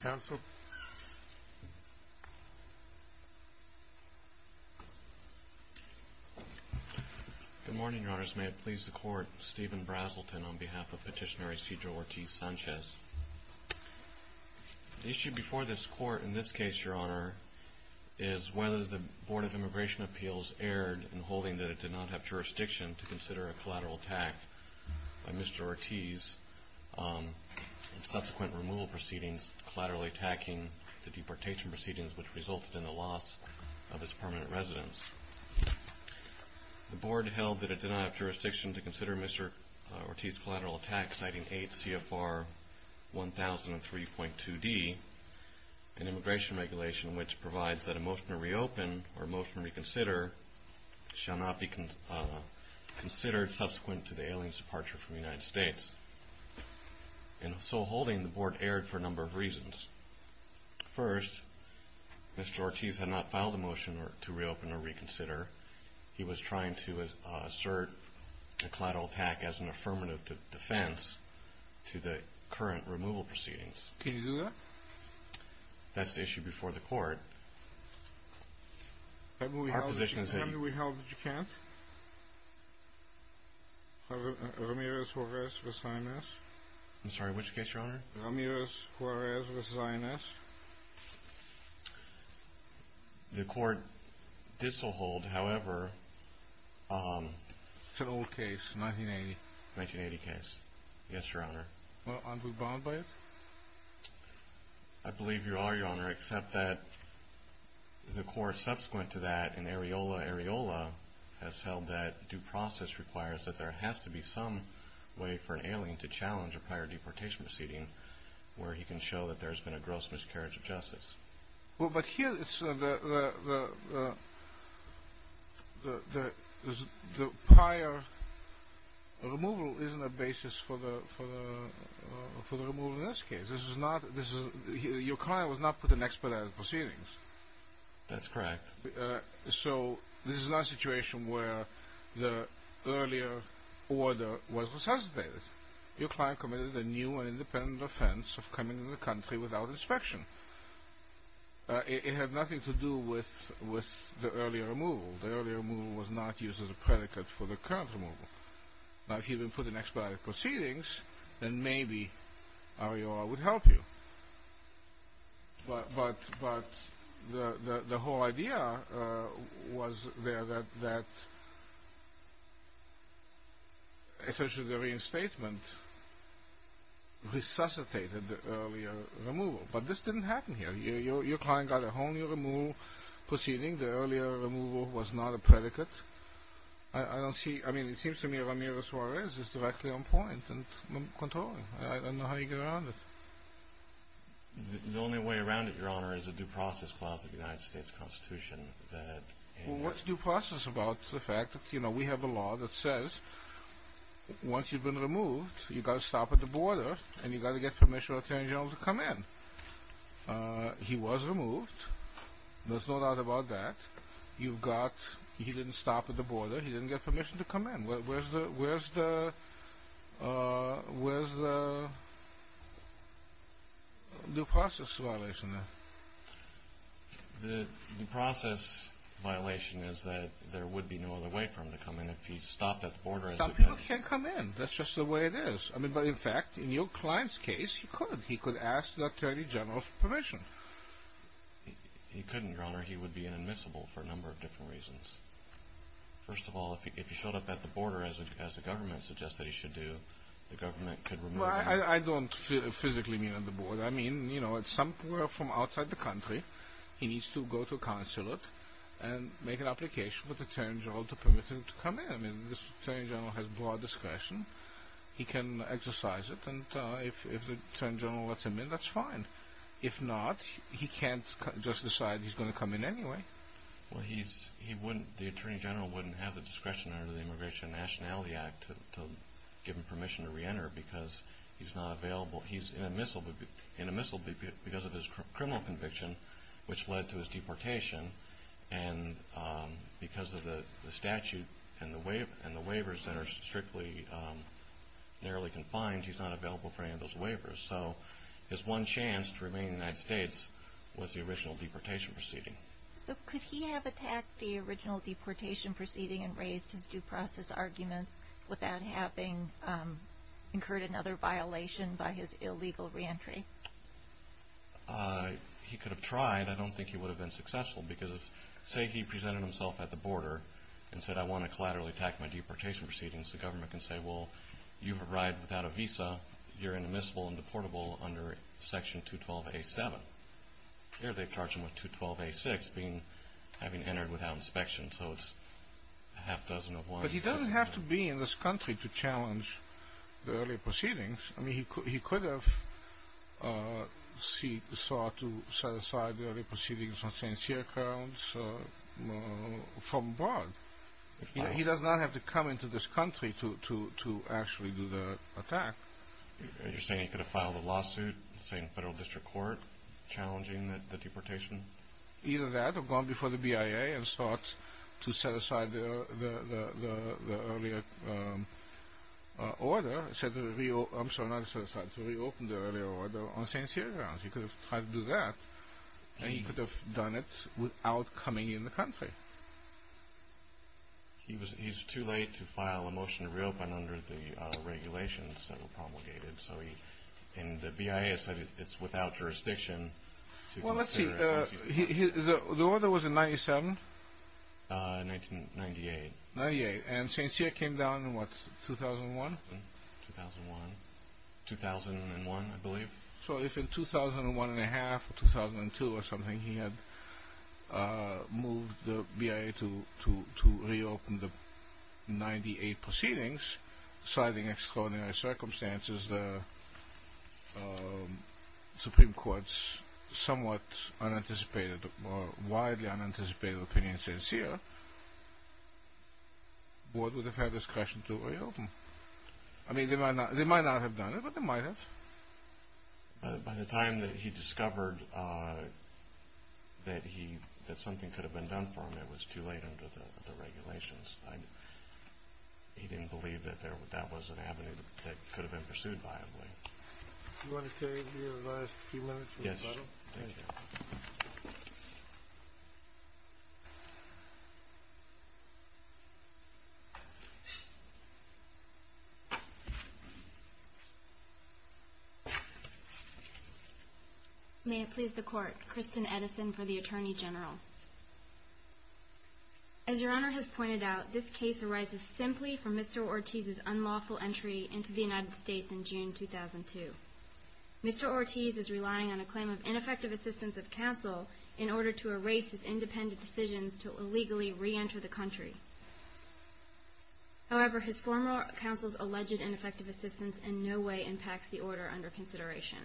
Good morning, Your Honors. May it please the Court, Stephen Braselton on behalf of Petitioner Cedro Ortiz-Sanchez. The issue before this Court in this case, Your Honor, is whether the Board of Immigration Appeals erred in holding that it did not have jurisdiction to consider a collateral attack by Mr. Ortiz in subsequent removal proceedings, collaterally attacking the deportation proceedings which resulted in the loss of his permanent residence. The Board held that it did not have jurisdiction to consider Mr. Ortiz's collateral attack, citing 8 CFR 1003.2d, an immigration regulation which provides that a motion to reopen or reconsider was considered subsequent to the alien's departure from the United States. In so holding, the Board erred for a number of reasons. First, Mr. Ortiz had not filed a motion to reopen or reconsider. He was trying to assert a collateral attack as an affirmative defense to the current removal proceedings. Can you do that? That's the issue before the Court. Our position is that... I'm sorry, which case, Your Honor? The Court did so hold, however... 1980 case, yes, Your Honor. I believe you are, Your Honor, except that the Court, subsequent to that, in Areola, Areola, has held that due process requires that there has to be some way for an alien to challenge a prior deportation proceeding where he can show that there has been a gross miscarriage of justice. But here, the prior removal isn't a basis for the removal in this case. Your client was not put on expedited proceedings. That's correct. So, this is not a situation where the earlier order was resuscitated. Your client committed a new and independent offense of coming into the country without inspection. It had nothing to do with the earlier removal. The earlier removal was not used as a predicate for the current removal. Now, if he had been put on expedited proceedings, then maybe Areola would help you. But the whole idea was there that... essentially, the reinstatement resuscitated the earlier removal. But this didn't happen here. Your client got a whole new removal proceeding. The earlier removal was not a predicate. I don't see... I mean, it seems to me Ramirez-Juarez is directly on point and controlling. I don't know how you get around it. The only way around it, Your Honor, is a due process clause of the United States Constitution that... Well, what's due process about the fact that we have a law that says once you've been removed, you've got to stop at the border and you've got to get permission from the Attorney General to come in. He was removed. There's no doubt about that. You've got... He didn't stop at the border. He didn't get permission to come in. Where's the... Where's the... due process violation? The due process violation is that there would be no other way for him to come in if he stopped at the border. Some people can't come in. That's just the way it is. I mean, but in fact, in your client's case, he could. He could ask the Attorney General for permission. He couldn't, Your Honor. He would be inadmissible for a number of different reasons. First of all, if he showed up at the border, as the government suggests that he should do, the government could remove him. Well, I don't physically mean at the border. I mean, you know, it's somewhere from outside the country. He needs to go to a consulate and make an application for the Attorney General to permit him to come in. The Attorney General has broad discretion. He can exercise it, and if the Attorney General lets him in, that's fine. If not, he can't just decide he's going to come in anyway. Well, he wouldn't... The Attorney General wouldn't have the discretion under the Immigration and Nationality Act to give him permission to reenter because he's not available. He's inadmissible because of his criminal conviction, which led to his deportation, and because of the statute and the waivers that are strictly narrowly confined, he's not available for any of those waivers. So his one chance to remain in the United States was the original deportation proceeding. So could he have attacked the original deportation proceeding and raised his due process arguments without having incurred another violation by his illegal reentry? He could have tried. I don't think he would have been successful because if, say, he presented himself at the border and said, I want to collaterally attack my deportation proceedings, the government can say, well, you've arrived without a visa. You're inadmissible and deportable under Section 212A.7. Here they charge him with 212A.6, having entered without inspection. So it's a half-dozen of one. But he doesn't have to be in this country to challenge the earlier proceedings. I mean, he could have sought to set aside the earlier proceedings on St. Cyr accounts from abroad. He does not have to come into this country to actually do the attack. You're saying he could have filed a lawsuit, say, in federal district court, challenging the deportation? Either that or gone before the BIA and sought to set aside the earlier order. I'm sorry, not to set aside, to reopen the earlier order on St. Cyr accounts. He could have tried to do that, and he could have done it without coming in the country. He's too late to file a motion to reopen under the regulations that were promulgated. And the BIA said it's without jurisdiction. Well, let's see. The order was in 1997? 1998. And St. Cyr came down in what, 2001? 2001. 2001, I believe. So if in 2001 and a half, or 2002 or something, he had moved the BIA to reopen the 98 proceedings, citing extraordinary circumstances, the Supreme Court's somewhat unanticipated, or widely unanticipated opinion in St. Cyr, the board would have had discretion to reopen. I mean, they might not have done it, but they might have. By the time that he discovered that something could have been done for him, it was too late under the regulations. He didn't believe that that was an avenue that could have been pursued viably. Do you want to save your last few minutes for the final? Yes. May it please the Court. Kristen Edison for the Attorney General. As Your Honor has pointed out, this case arises simply from Mr. Ortiz's unlawful entry into the United States in June 2002. Mr. Ortiz is relying on a claim of ineffective assistance of counsel in order to erase his independent decisions to illegally reenter the country. However, his former counsel's alleged ineffective assistance in no way impacts the order under consideration.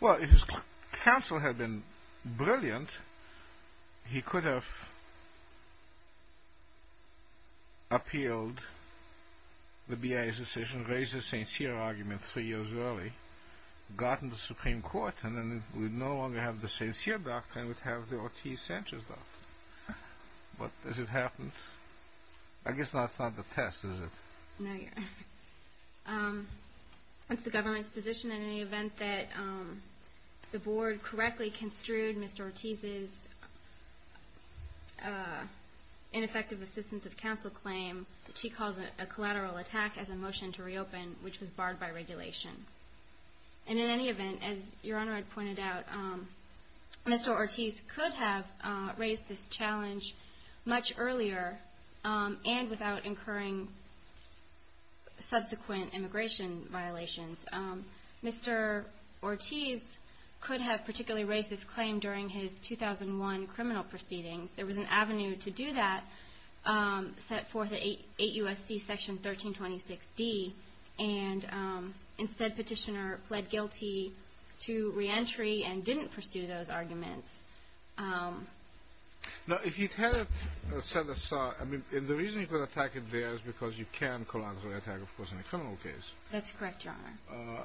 Well, if his counsel had been brilliant, he could have appealed the BIA's decision, raised the St. Cyr argument three years early, gotten the Supreme Court, and then we'd no longer have the St. Cyr doctrine, we'd have the Ortiz-Sanchez doctrine. But as it happened, I guess that's not the test, is it? No, Your Honor. It's the government's position in any event that the Board correctly construed Mr. Ortiz's ineffective assistance of counsel claim, which he calls a collateral attack as a motion to reopen, which was barred by regulation. And in any event, as Your Honor had pointed out, Mr. Ortiz could have raised this challenge much earlier and without incurring subsequent immigration violations. Mr. Ortiz could have particularly raised this claim during his 2001 criminal proceedings. There was an avenue to do that set forth at 8 U.S.C. Section 1326D, and instead Petitioner pled guilty to reentry and didn't pursue those arguments. Now, if he had set aside – I mean, the reason he could attack it there is because you can collateral attack, of course, in a criminal case. That's correct, Your Honor.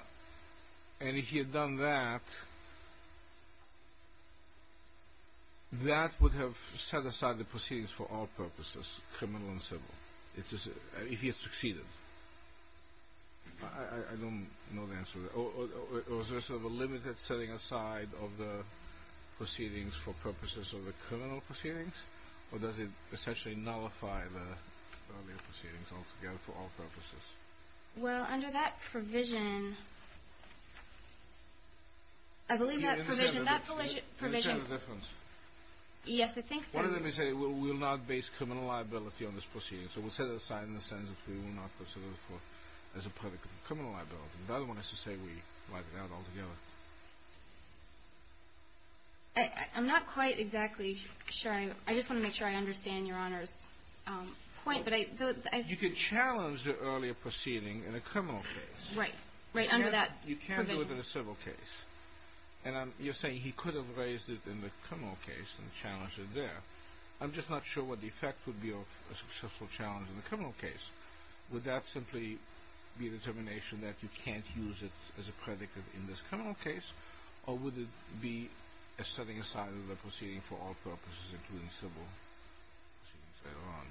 And if he had done that, that would have set aside the proceedings for all purposes, criminal and civil, if he had succeeded. I don't know the answer to that. Or is there sort of a limited setting aside of the proceedings for purposes of the criminal proceedings? Or does it essentially nullify the earlier proceedings altogether for all purposes? Well, under that provision – I believe that provision – Do you understand the difference? Yes, I think so. One of them is that it will not base criminal liability on this proceeding. So we'll set it aside in the sense that we will not consider it as a part of criminal liability. The other one is to say we wipe it out altogether. I'm not quite exactly sure. I just want to make sure I understand Your Honor's point. You could challenge the earlier proceeding in a criminal case. Right, right under that provision. You can't do it in a civil case. And you're saying he could have raised it in the criminal case and challenged it there. I'm just not sure what the effect would be of a successful challenge in a criminal case. Would that simply be a determination that you can't use it as a predicate in this criminal case? Or would it be a setting aside of the proceeding for all purposes, including civil proceedings later on?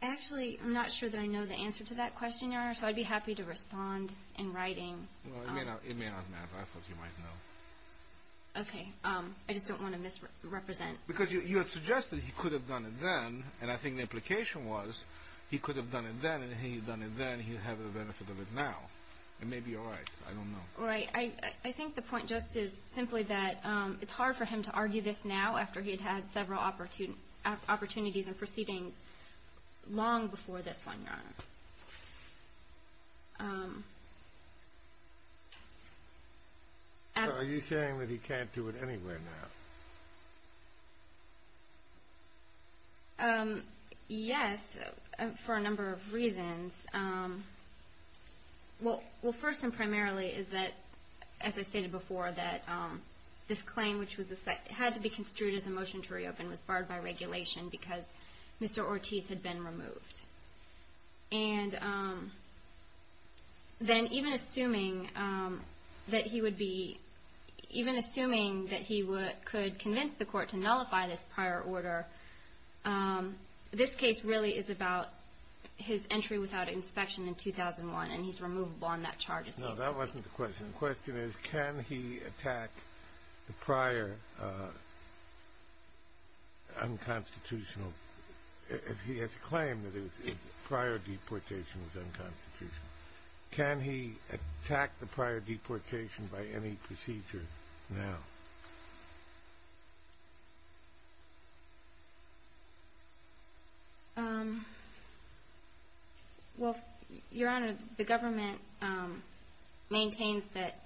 Actually, I'm not sure that I know the answer to that question, Your Honor. So I'd be happy to respond in writing. Well, it may not matter. I thought you might know. Okay. I just don't want to misrepresent. Because you have suggested he could have done it then. And I think the implication was he could have done it then, and he had done it then. He'd have the benefit of it now. It may be all right. I don't know. Right. I think the point just is simply that it's hard for him to argue this now, after he'd had several opportunities in proceedings long before this one, Your Honor. Are you saying that he can't do it anywhere now? Yes, for a number of reasons. Well, first and primarily is that, as I stated before, that this claim, which had to be construed as a motion to reopen, was barred by regulation because Mr. Ortiz had been removed. And then even assuming that he could convince the court to nullify this prior order, this case really is about his entry without inspection in 2001, and he's removable on that charge. No, that wasn't the question. The question is, can he attack the prior unconstitutional – he has claimed that his prior deportation was unconstitutional. Can he attack the prior deportation by any procedure now? Well, Your Honor, the government maintains that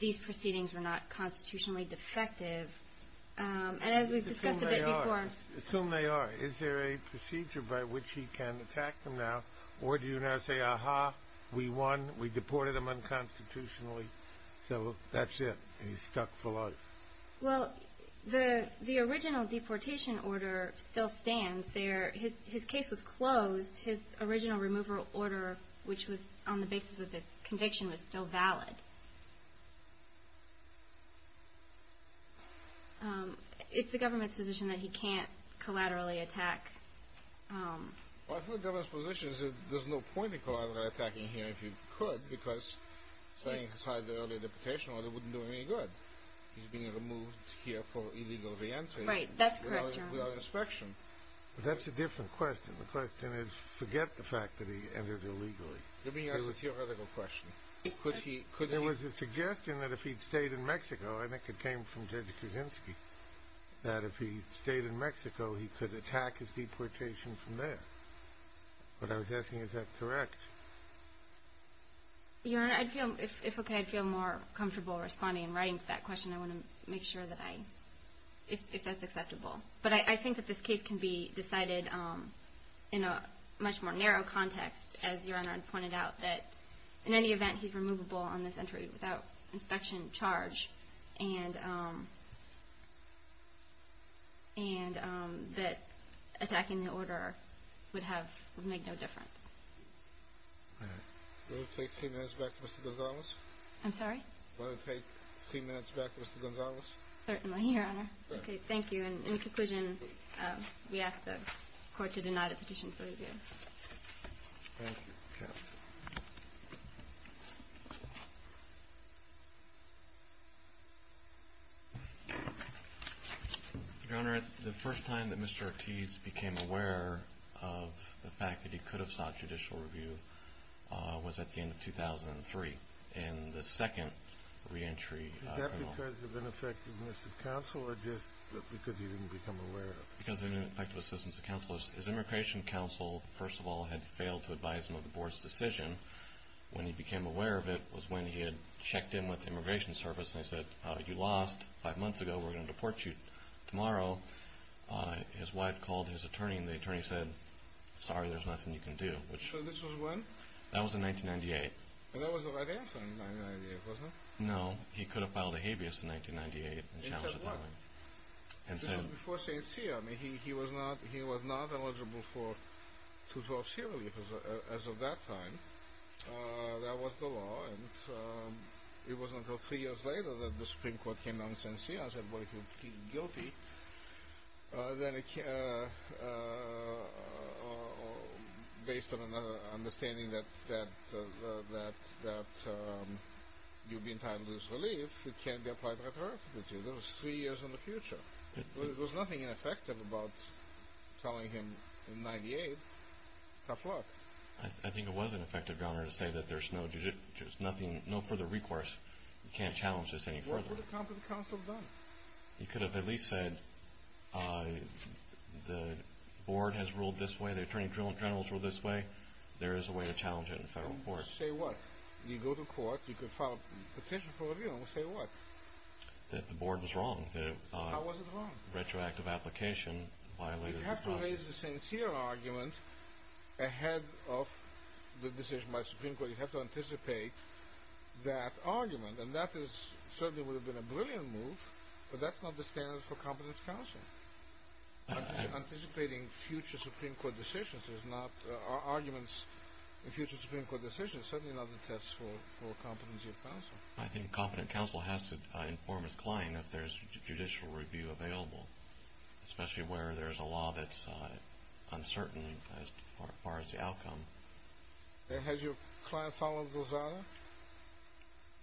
these proceedings were not constitutionally defective. And as we've discussed a bit before – Assume they are. Assume they are. Is there a procedure by which he can attack them now? Or do you now say, ah-ha, we won, we deported him unconstitutionally, so that's it, he's stuck for life? Well, the original deportation order still stands there. His case was closed. His original removal order, which was on the basis of this conviction, was still valid. It's the government's position that he can't collaterally attack – Well, I think the government's position is that there's no point in collaterally attacking him if he could, because setting aside the earlier deportation order wouldn't do him any good. He's being removed here for illegal re-entry without inspection. Right, that's correct, Your Honor. But that's a different question. The question is, forget the fact that he entered illegally. Let me ask a theoretical question. There was a suggestion that if he'd stayed in Mexico – I think it came from Judge Kuczynski – that if he stayed in Mexico, he could attack his deportation from there. But I was asking, is that correct? Your Honor, if it's okay, I'd feel more comfortable responding and writing to that question. I want to make sure that I – if that's acceptable. But I think that this case can be decided in a much more narrow context, as Your Honor had pointed out, that in any event, he's removable on this entry without inspection charge, and that attacking the order would make no difference. All right. Will it take three minutes back for Mr. Gonzalez? I'm sorry? Will it take three minutes back for Mr. Gonzalez? Certainly, Your Honor. Okay, thank you. In conclusion, we ask the Court to deny the petition for review. Thank you. Your Honor, the first time that Mr. Ortiz became aware of the fact that he could have sought judicial review was at the end of 2003, in the second re-entry. Is that because of ineffectiveness of counsel, or just because he didn't become aware of it? Because of ineffectiveness of counsel. His immigration counsel, first of all, had failed to advise him of the Board's decision. When he became aware of it was when he had checked in with the Immigration Service and they said, you lost five months ago. We're going to deport you tomorrow. His wife called his attorney, and the attorney said, sorry, there's nothing you can do. So this was when? That was in 1998. That was the right answer in 1998, wasn't it? No, he could have filed a habeas in 1998 and challenged it that way. He said when? This was before St. Cyr. I mean, he was not eligible for 2012 serial leave as of that time. That was the law. It wasn't until three years later that the Supreme Court came down to St. Cyr and said, well, if you're guilty, then based on an understanding that you'll be entitled to this relief, it can be applied right away. That was three years in the future. There was nothing ineffective about telling him in 1998, tough luck. I think it was an effective garner to say that there's no further recourse. You can't challenge this any further. What would a competent counsel have done? He could have at least said the board has ruled this way, the attorney general has ruled this way, there is a way to challenge it in federal court. Say what? You go to court, you could file a petition for a review, and say what? That the board was wrong. How was it wrong? Retroactive application violated the process. To raise the St. Cyr argument ahead of the decision by the Supreme Court, you have to anticipate that argument, and that certainly would have been a brilliant move, but that's not the standard for competent counsel. Anticipating future Supreme Court decisions is not, arguments in future Supreme Court decisions, certainly not the test for competency of counsel. I think competent counsel has to inform its client if there's judicial review available, especially where there's a law that's uncertain as far as the outcome. Has your client followed those orders?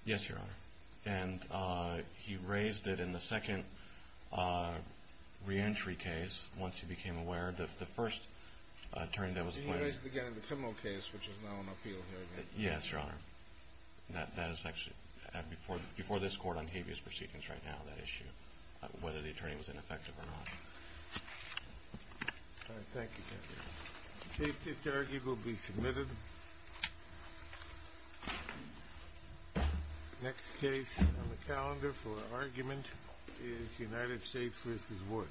Yes, Your Honor. And he raised it in the second reentry case, once he became aware, the first attorney that was appointed. He raised it again in the criminal case, which is now an appeal hearing. Yes, Your Honor. That is actually before this court on habeas proceedings right now, that issue, whether the attorney was ineffective or not. All right. Thank you, Judge. Next case on the calendar for argument is United States v. Woods. Thank you, Your Honor.